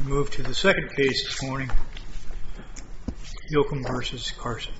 We move to the second case this morning, Yochim v. Carson.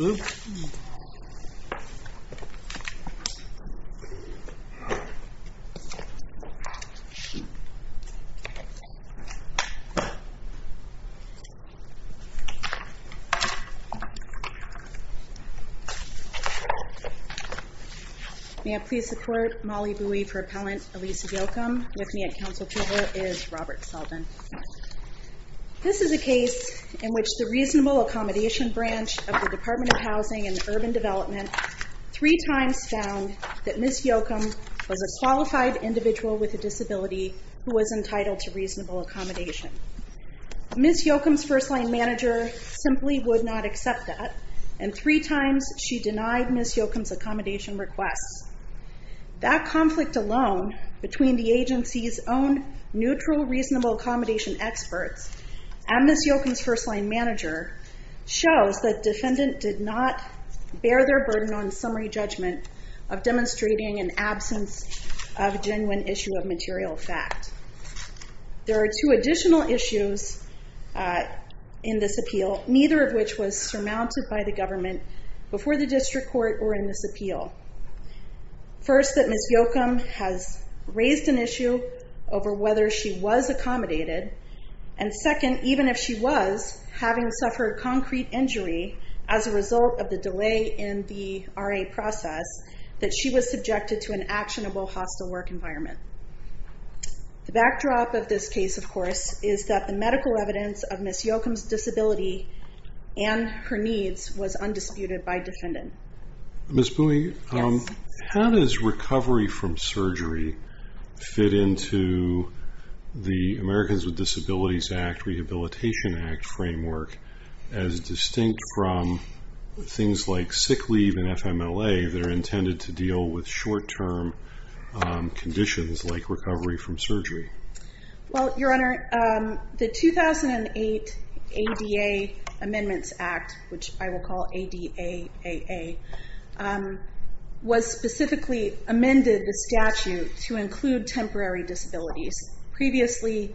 May I please support Molly Bui for Appellant Elisa Yochim? With me at Council table is Robert Selden. This is a case in which the Reasonable Accommodation Branch of the Department of Housing and Urban Development three times found that Ms. Yochim was a qualified individual with a disability who was entitled to reasonable accommodation. Ms. Yochim's first-line manager simply would not accept that, and three times she denied Ms. Yochim's accommodation requests. That conflict alone, between the agency's own neutral reasonable accommodation experts and Ms. Yochim's first-line manager, shows that defendant did not bear their burden on summary judgment of demonstrating an absence of a genuine issue of material fact. There are two additional issues in this appeal, neither of which was surmounted by the government before the district court or in this appeal. First, that Ms. Yochim has raised an issue over whether she was accommodated, and second, even if she was, having suffered concrete injury as a result of the delay in the RA process, that she was subjected to an actionable hostile work environment. The backdrop of this case, of course, is that the medical evidence of Ms. Yochim's disability and her needs was undisputed by defendant. Ms. Bui, how does recovery from surgery fit into the Americans with Disabilities Act Rehabilitation Act framework as distinct from things like sick leave and FMLA that are intended to deal with short-term conditions like recovery from surgery? Well, Your Honor, the 2008 ADA Amendments Act, which I will call ADAAA, was specifically amended, the statute, to include temporary disabilities. Previously,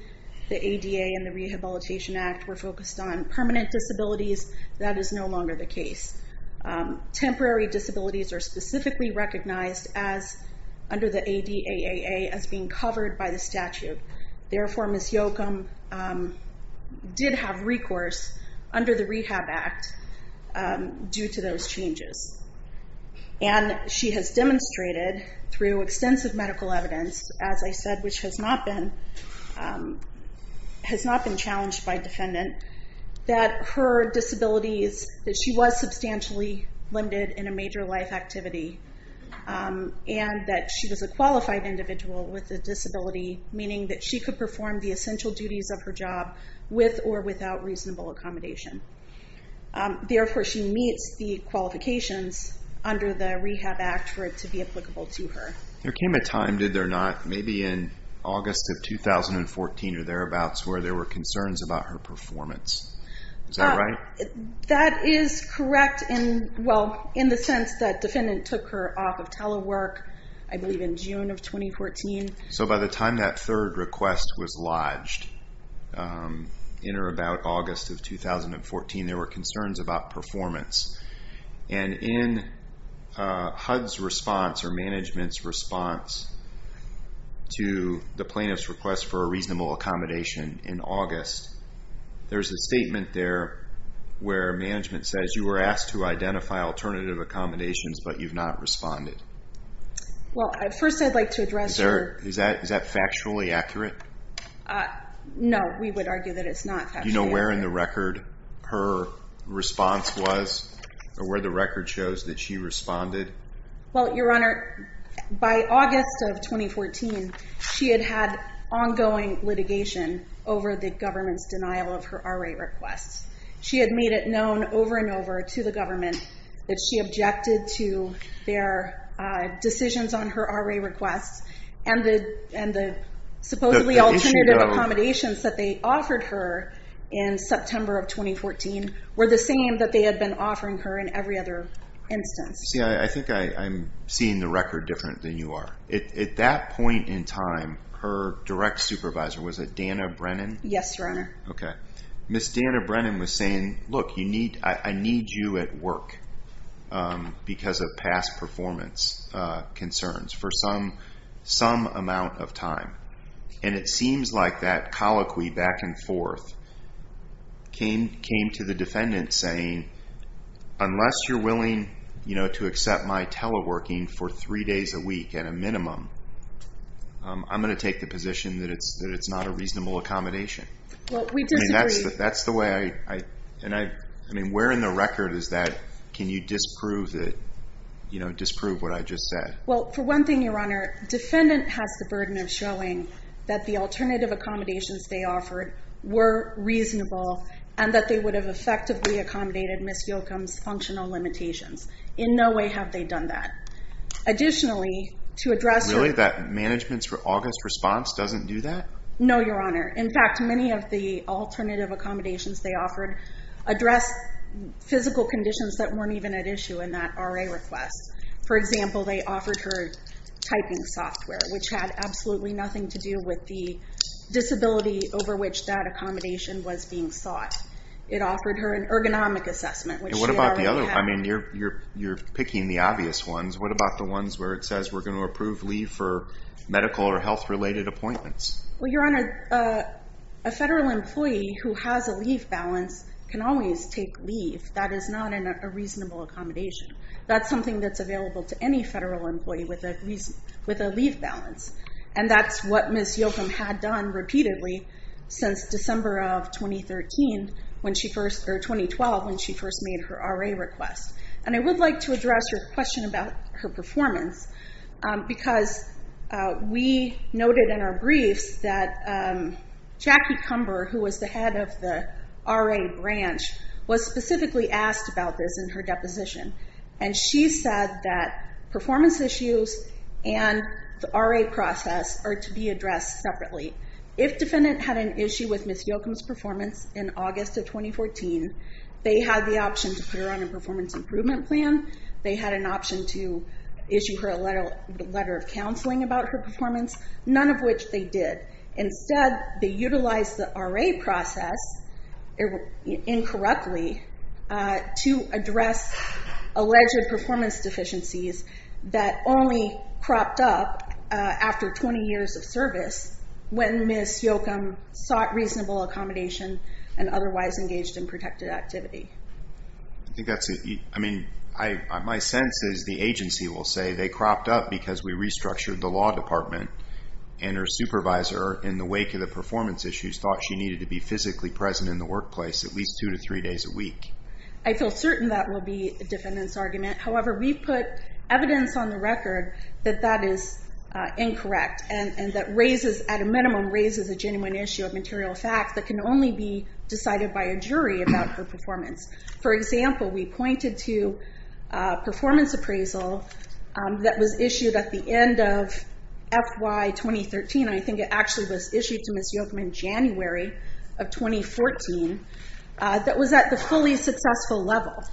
the ADA and the Rehabilitation Act were focused on permanent disabilities. That is no longer the case. Temporary disabilities are specifically recognized under the ADAAA as being covered by the statute. Therefore, Ms. Yochim did have recourse under the Rehab Act due to those changes. And she has demonstrated through extensive medical evidence, as I said, which has not been challenged by defendant, that her disabilities, that she was substantially limited in a major life activity, and that she was a qualified individual with a disability, meaning that she could perform the essential duties of her job with or without reasonable accommodation. Therefore, she meets the qualifications under the Rehab Act for it to be applicable to her. There came a time, did there not, maybe in August of 2014 or thereabouts, where there were concerns about her performance? Is that right? That is correct in the sense that defendant took her off of telework, I believe in June of 2014. So by the time that third request was lodged, in or about August of 2014, there were concerns about performance. And in HUD's response or management's response to the plaintiff's request for a reasonable accommodation in August, there's a statement there where management says, you were asked to identify alternative accommodations, but you've not responded. Well, first I'd like to address your... Is that factually accurate? Do you know where in the record her response was or where the record shows that she responded? Well, Your Honor, by August of 2014, she had had ongoing litigation over the government's denial of her RA requests. She had made it known over and over to the government that she objected to their decisions on her RA requests, and the supposedly alternative accommodations that they offered her in September of 2014 were the same that they had been offering her in every other instance. See, I think I'm seeing the record different than you are. At that point in time, her direct supervisor, was it Dana Brennan? Yes, Your Honor. Okay. Ms. Dana Brennan was saying, look, I need you at work because of past performance concerns. For some amount of time. And it seems like that colloquy back and forth came to the defendant saying, unless you're willing to accept my teleworking for three days a week at a minimum, I'm going to take the position that it's not a reasonable accommodation. Well, we disagree. That's the way I... I mean, where in the record is that? Can you disprove what I just said? Well, for one thing, Your Honor, defendant has the burden of showing that the alternative accommodations they offered were reasonable and that they would have effectively accommodated Ms. Yochum's functional limitations. In no way have they done that. Additionally, to address... Really, that management's August response doesn't do that? No, Your Honor. In fact, many of the alternative accommodations they offered address physical conditions that weren't even at issue in that RA request. For example, they offered her typing software, which had absolutely nothing to do with the disability over which that accommodation was being sought. It offered her an ergonomic assessment. And what about the other? I mean, you're picking the obvious ones. What about the ones where it says we're going to approve leave for medical or health-related appointments? Well, Your Honor, a federal employee who has a leave balance can always take leave. That is not a reasonable accommodation. That's something that's available to any federal employee with a leave balance. And that's what Ms. Yochum had done repeatedly since December of 2013, or 2012, when she first made her RA request. And I would like to address your question about her performance because we noted in our briefs that Jackie Cumber, who was the head of the RA branch, was specifically asked about this in her deposition. And she said that performance issues and the RA process are to be addressed separately. If defendant had an issue with Ms. Yochum's performance in August of 2014, they had the option to put her on a performance improvement plan. They had an option to issue her a letter of counseling about her performance, none of which they did. Instead, they utilized the RA process incorrectly to address alleged performance deficiencies that only cropped up after 20 years of service when Ms. Yochum sought reasonable accommodation and otherwise engaged in protected activity. I think that's a, I mean, my sense is the agency will say they cropped up because we restructured the law department. And her supervisor, in the wake of the performance issues, thought she needed to be physically present in the workplace at least two to three days a week. I feel certain that will be the defendant's argument. However, we put evidence on the record that that is incorrect and that raises, at a minimum, raises a genuine issue of material fact that can only be decided by a jury about her performance. For example, we pointed to a performance appraisal that was issued at the end of FY 2013, I think it actually was issued to Ms. Yochum in January of 2014, that was at the fully successful level.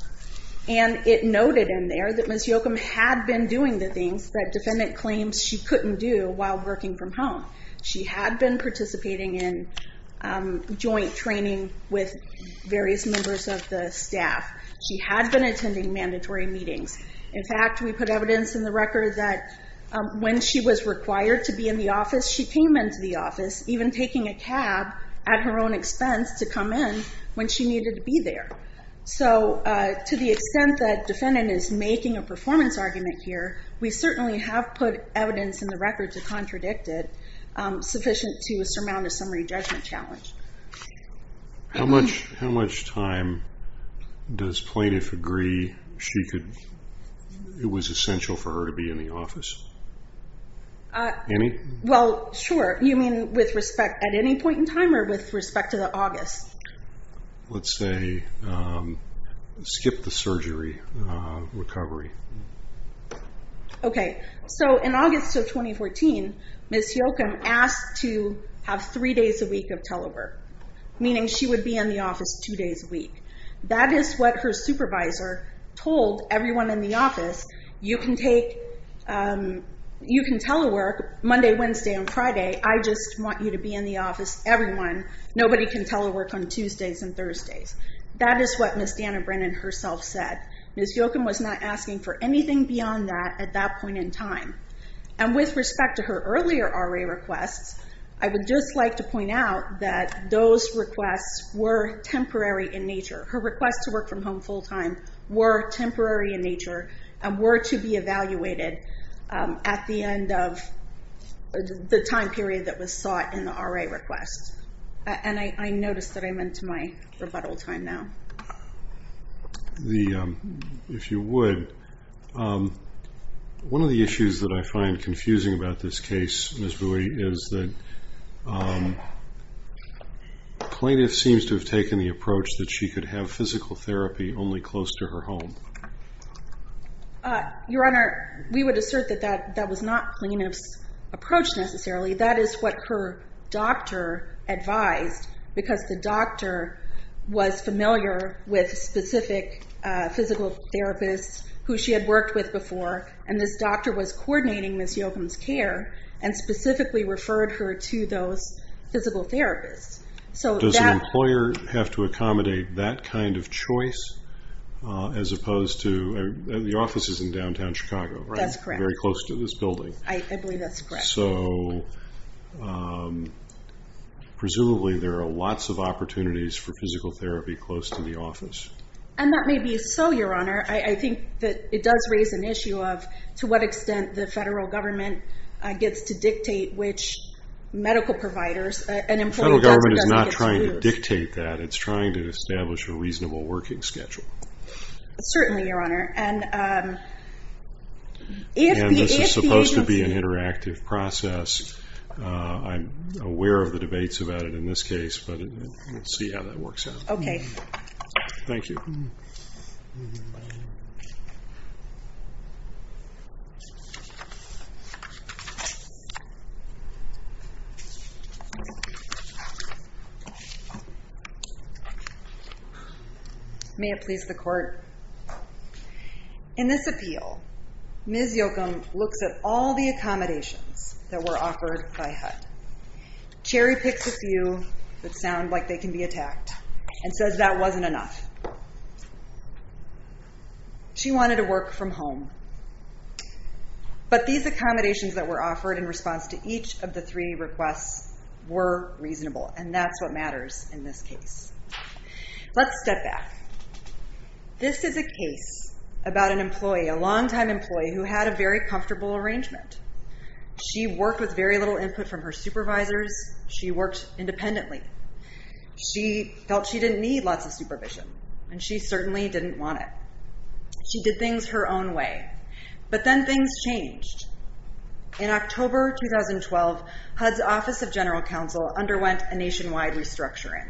And it noted in there that Ms. Yochum had been doing the things that defendant claims she couldn't do while working from home. She had been participating in joint training with various members of the staff. She had been attending mandatory meetings. In fact, we put evidence in the record that when she was required to be in the office, she came into the office, even taking a cab at her own expense, to come in when she needed to be there. So to the extent that defendant is making a performance argument here, we certainly have put evidence in the record to contradict it, sufficient to surmount a summary judgment challenge. How much time does plaintiff agree it was essential for her to be in the office? Any? Well, sure. You mean with respect at any point in time or with respect to the August? Let's say skip the surgery recovery. Okay. So in August of 2014, Ms. Yochum asked to have three days a week of telework, meaning she would be in the office two days a week. That is what her supervisor told everyone in the office. You can telework Monday, Wednesday, and Friday. I just want you to be in the office, everyone. Nobody can telework on Tuesdays and Thursdays. That is what Ms. Dana Brennan herself said. Ms. Yochum was not asking for anything beyond that at that point in time. And with respect to her earlier RA requests, I would just like to point out that those requests were temporary in nature. Her requests to work from home full-time were temporary in nature and were to be evaluated at the end of the time period that was sought in the RA request. And I notice that I'm into my rebuttal time now. If you would, one of the issues that I find confusing about this case, Ms. Bui, is that plaintiff seems to have taken the approach that she could have physical therapy only close to her home. Your Honor, we would assert that that was not plaintiff's approach necessarily. That is what her doctor advised, because the doctor was familiar with specific physical therapists who she had worked with before, and this doctor was coordinating Ms. Yochum's care and specifically referred her to those physical therapists. Does an employer have to accommodate that kind of choice as opposed to... The office is in downtown Chicago, right? That's correct. Very close to this building. I believe that's correct. So presumably there are lots of opportunities for physical therapy close to the office. And that may be so, Your Honor. I think that it does raise an issue of to what extent the federal government gets to dictate which medical providers an employer does or doesn't get to. The federal government is not trying to dictate that. It's trying to establish a reasonable working schedule. Certainly, Your Honor. And this is supposed to be an interactive process. I'm aware of the debates about it in this case, but we'll see how that works out. Okay. Thank you. May it please the Court. In this appeal, Ms. Yochum looks at all the accommodations that were offered by HUD, cherry-picks a few that sound like they can be attacked, and says that wasn't enough. She wanted to work from home. But these accommodations that were offered in response to each of the three requests were reasonable, and that's what matters in this case. Let's step back. This is a case about an employee, a longtime employee, who had a very comfortable arrangement. She worked with very little input from her supervisors. She worked independently. She felt she didn't need lots of supervision, and she certainly didn't want it. She did things her own way. But then things changed. In October 2012, HUD's Office of General Counsel underwent a nationwide restructuring.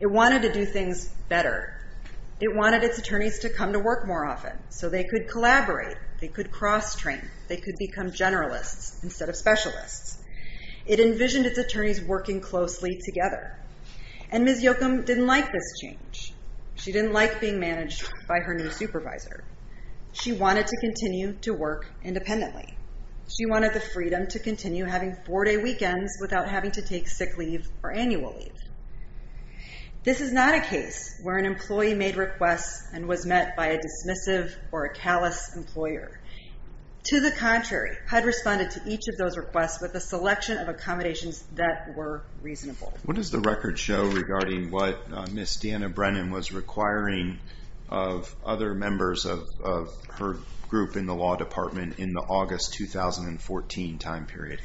It wanted to do things better. It wanted its attorneys to come to work more often so they could collaborate, they could cross-train, they could become generalists instead of specialists. It envisioned its attorneys working closely together. And Ms. Yochum didn't like this change. She didn't like being managed by her new supervisor. She wanted to continue to work independently. She wanted the freedom to continue having four-day weekends without having to take sick leave or annual leave. This is not a case where an employee made requests and was met by a dismissive or a callous employer. To the contrary, HUD responded to each of those requests with a selection of accommodations that were reasonable. What does the record show regarding what Ms. Dana Brennan was requiring of other members of her group in the law department in the August 2014 time period?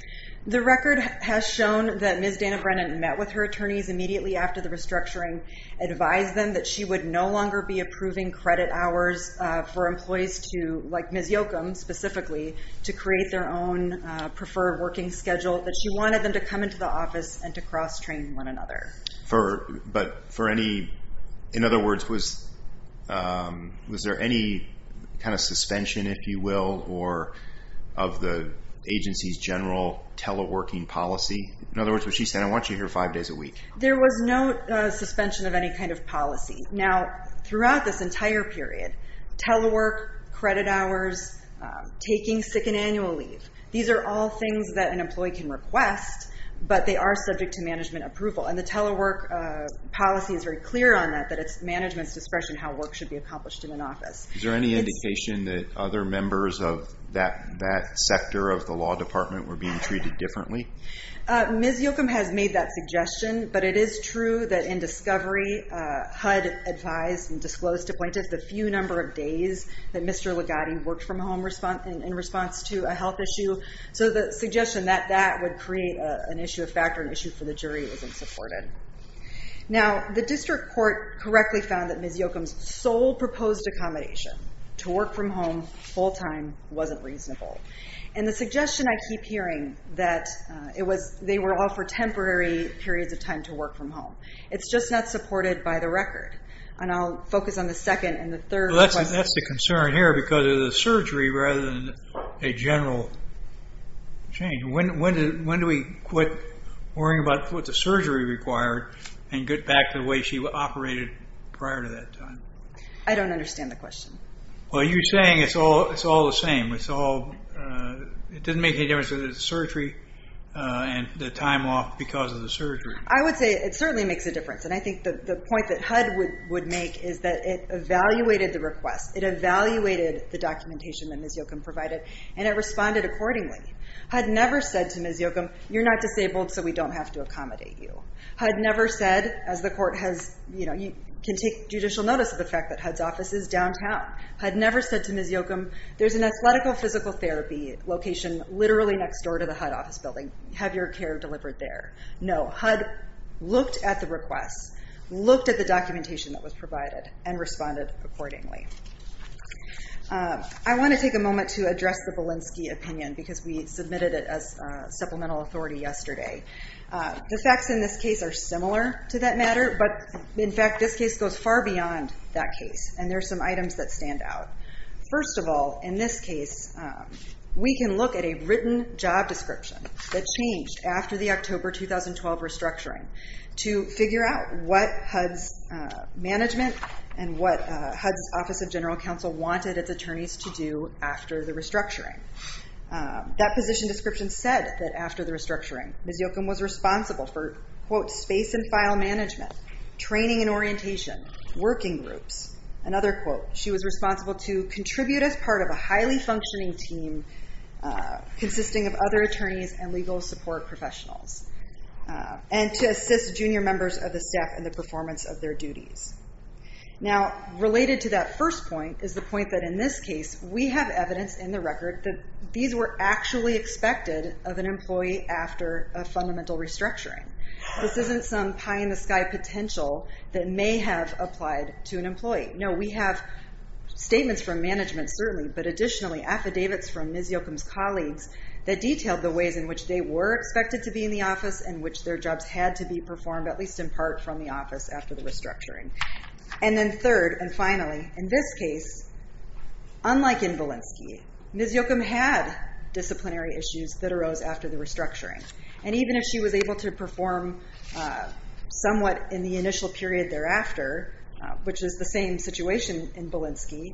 The record has shown that Ms. Dana Brennan met with her attorneys immediately after the restructuring, advised them that she would no longer be approving credit hours for employees to, like Ms. Yochum specifically, to create their own preferred working schedule, that she wanted them to come into the office and to cross-train one another. But for any, in other words, was there any kind of suspension, if you will, or of the agency's general teleworking policy? In other words, what she said, I want you here five days a week. There was no suspension of any kind of policy. Now, throughout this entire period, telework, credit hours, taking sick and annual leave, these are all things that an employee can request, but they are subject to management approval. And the telework policy is very clear on that, that it's management's discretion how work should be accomplished in an office. Is there any indication that other members of that sector of the law department were being treated differently? Ms. Yochum has made that suggestion, but it is true that in discovery, HUD advised and disclosed to appointees the few number of days that Mr. Ligotti worked from home in response to a health issue. So the suggestion that that would create an issue of fact or an issue for the jury wasn't supported. Now, the district court correctly found that Ms. Yochum's sole proposed accommodation to work from home full-time wasn't reasonable. And the suggestion I keep hearing that they were all for temporary periods of time to work from home. It's just not supported by the record. And I'll focus on the second and the third question. That's the concern here because of the surgery rather than a general change. When do we quit worrying about what the surgery required and get back to the way she operated prior to that time? I don't understand the question. Well, you're saying it's all the same. It doesn't make any difference whether it's surgery and the time off because of the surgery. I would say it certainly makes a difference. And I think the point that HUD would make is that it evaluated the request. It evaluated the documentation that Ms. Yochum provided, and it responded accordingly. HUD never said to Ms. Yochum, you're not disabled, so we don't have to accommodate you. HUD never said, as the court has, you know, you can take judicial notice of the fact that HUD's office is downtown. HUD never said to Ms. Yochum, there's an athletical physical therapy location literally next door to the HUD office building. Have your care delivered there. No, HUD looked at the request, looked at the documentation that was provided, and responded accordingly. I want to take a moment to address the Belinsky opinion because we submitted it as supplemental authority yesterday. The facts in this case are similar to that matter, but, in fact, this case goes far beyond that case, and there are some items that stand out. First of all, in this case, we can look at a written job description that changed after the October 2012 restructuring to figure out what HUD's management and what HUD's Office of General Counsel wanted its attorneys to do after the restructuring. That position description said that after the restructuring, Ms. Yochum was responsible for, quote, space and file management, training and orientation, working groups. Another quote, she was responsible to contribute as part of a highly functioning team consisting of other attorneys and legal support professionals, and to assist junior members of the staff in the performance of their duties. Now, related to that first point is the point that, in this case, we have evidence in the record that these were actually expected of an employee after a fundamental restructuring. This isn't some pie-in-the-sky potential that may have applied to an employee. No, we have statements from management, certainly, but additionally, affidavits from Ms. Yochum's colleagues that detailed the ways in which they were expected to be in the office and which their jobs had to be performed, at least in part, from the office after the restructuring. And then third, and finally, in this case, unlike in Valensky, Ms. Yochum had disciplinary issues that arose after the restructuring, and even if she was able to perform somewhat in the initial period thereafter, which is the same situation in Valensky,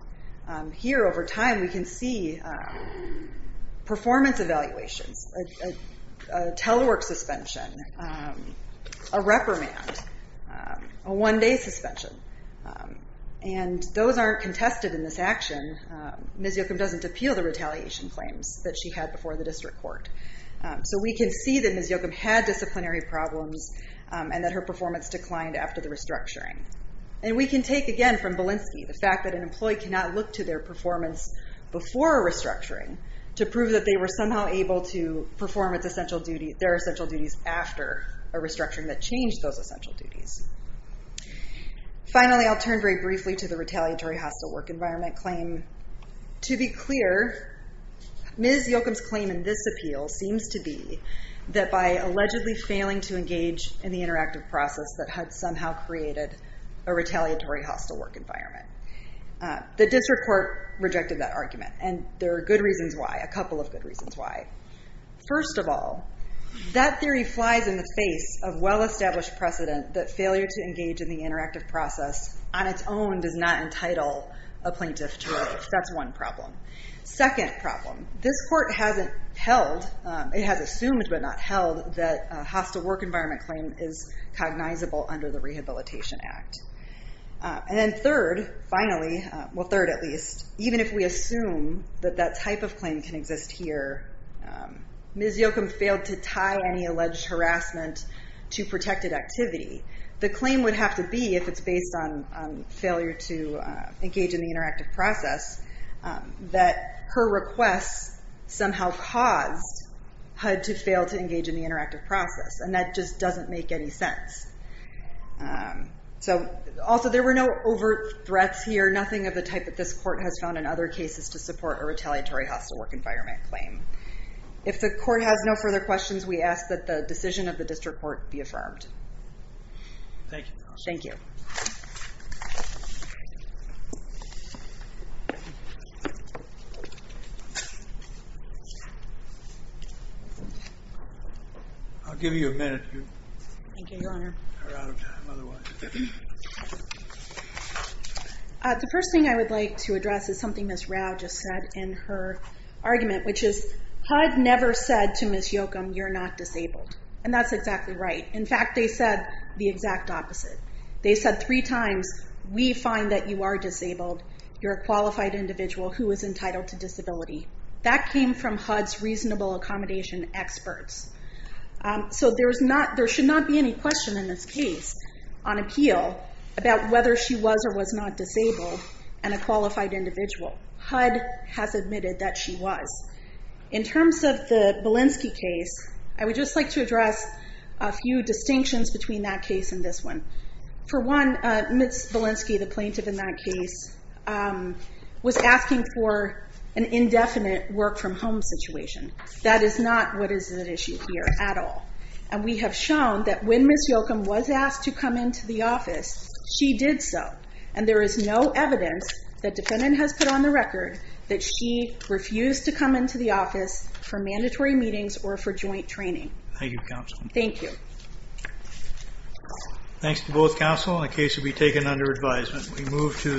here, over time, we can see performance evaluations, a telework suspension, a reprimand, a one-day suspension, and those aren't contested in this action. Ms. Yochum doesn't appeal the retaliation claims that she had before the district court. So we can see that Ms. Yochum had disciplinary problems and that her performance declined after the restructuring. And we can take, again, from Valensky, the fact that an employee cannot look to their performance before a restructuring to prove that they were somehow able to perform their essential duties after a restructuring that changed those essential duties. Finally, I'll turn very briefly to the retaliatory hostile work environment claim. To be clear, Ms. Yochum's claim in this appeal seems to be that by allegedly failing to engage in the interactive process that had somehow created a retaliatory hostile work environment. The district court rejected that argument, and there are good reasons why, a couple of good reasons why. First of all, that theory flies in the face of well-established precedent that failure to engage in the interactive process on its own does not entitle a plaintiff to release. That's one problem. Second problem, this court hasn't held, it has assumed but not held that a hostile work environment claim is cognizable under the Rehabilitation Act. And then third, finally, well third at least, even if we assume that that type of claim can exist here, Ms. Yochum failed to tie any alleged harassment to protected activity. The claim would have to be, if it's based on failure to engage in the interactive process, that her request somehow caused HUD to fail to engage in the interactive process, and that just doesn't make any sense. Also, there were no overt threats here, nothing of the type that this court has found in other cases to support a retaliatory hostile work environment claim. If the court has no further questions, we ask that the decision of the district court be affirmed. Thank you, Your Honor. Thank you. I'll give you a minute. Thank you, Your Honor. The first thing I would like to address is something Ms. Rao just said in her argument, which is HUD never said to Ms. Yochum, you're not disabled. And that's exactly right. In fact, they said the exact opposite. They said three times, we find that you are disabled, you're a qualified individual who is entitled to disability. That came from HUD's reasonable accommodation experts. So there should not be any question in this case on appeal about whether she was or was not disabled and a qualified individual. HUD has admitted that she was. In terms of the Belinsky case, I would just like to address a few distinctions between that case and this one. For one, Ms. Belinsky, the plaintiff in that case, was asking for an indefinite work from home situation. That is not what is at issue here at all. And we have shown that when Ms. Yochum was asked to come into the office, she did so. And there is no evidence that defendant has put on the record that she refused to come into the office for mandatory meetings or for joint training. Thank you, counsel. Thank you. Thanks to both counsel. The case will be taken under advisement.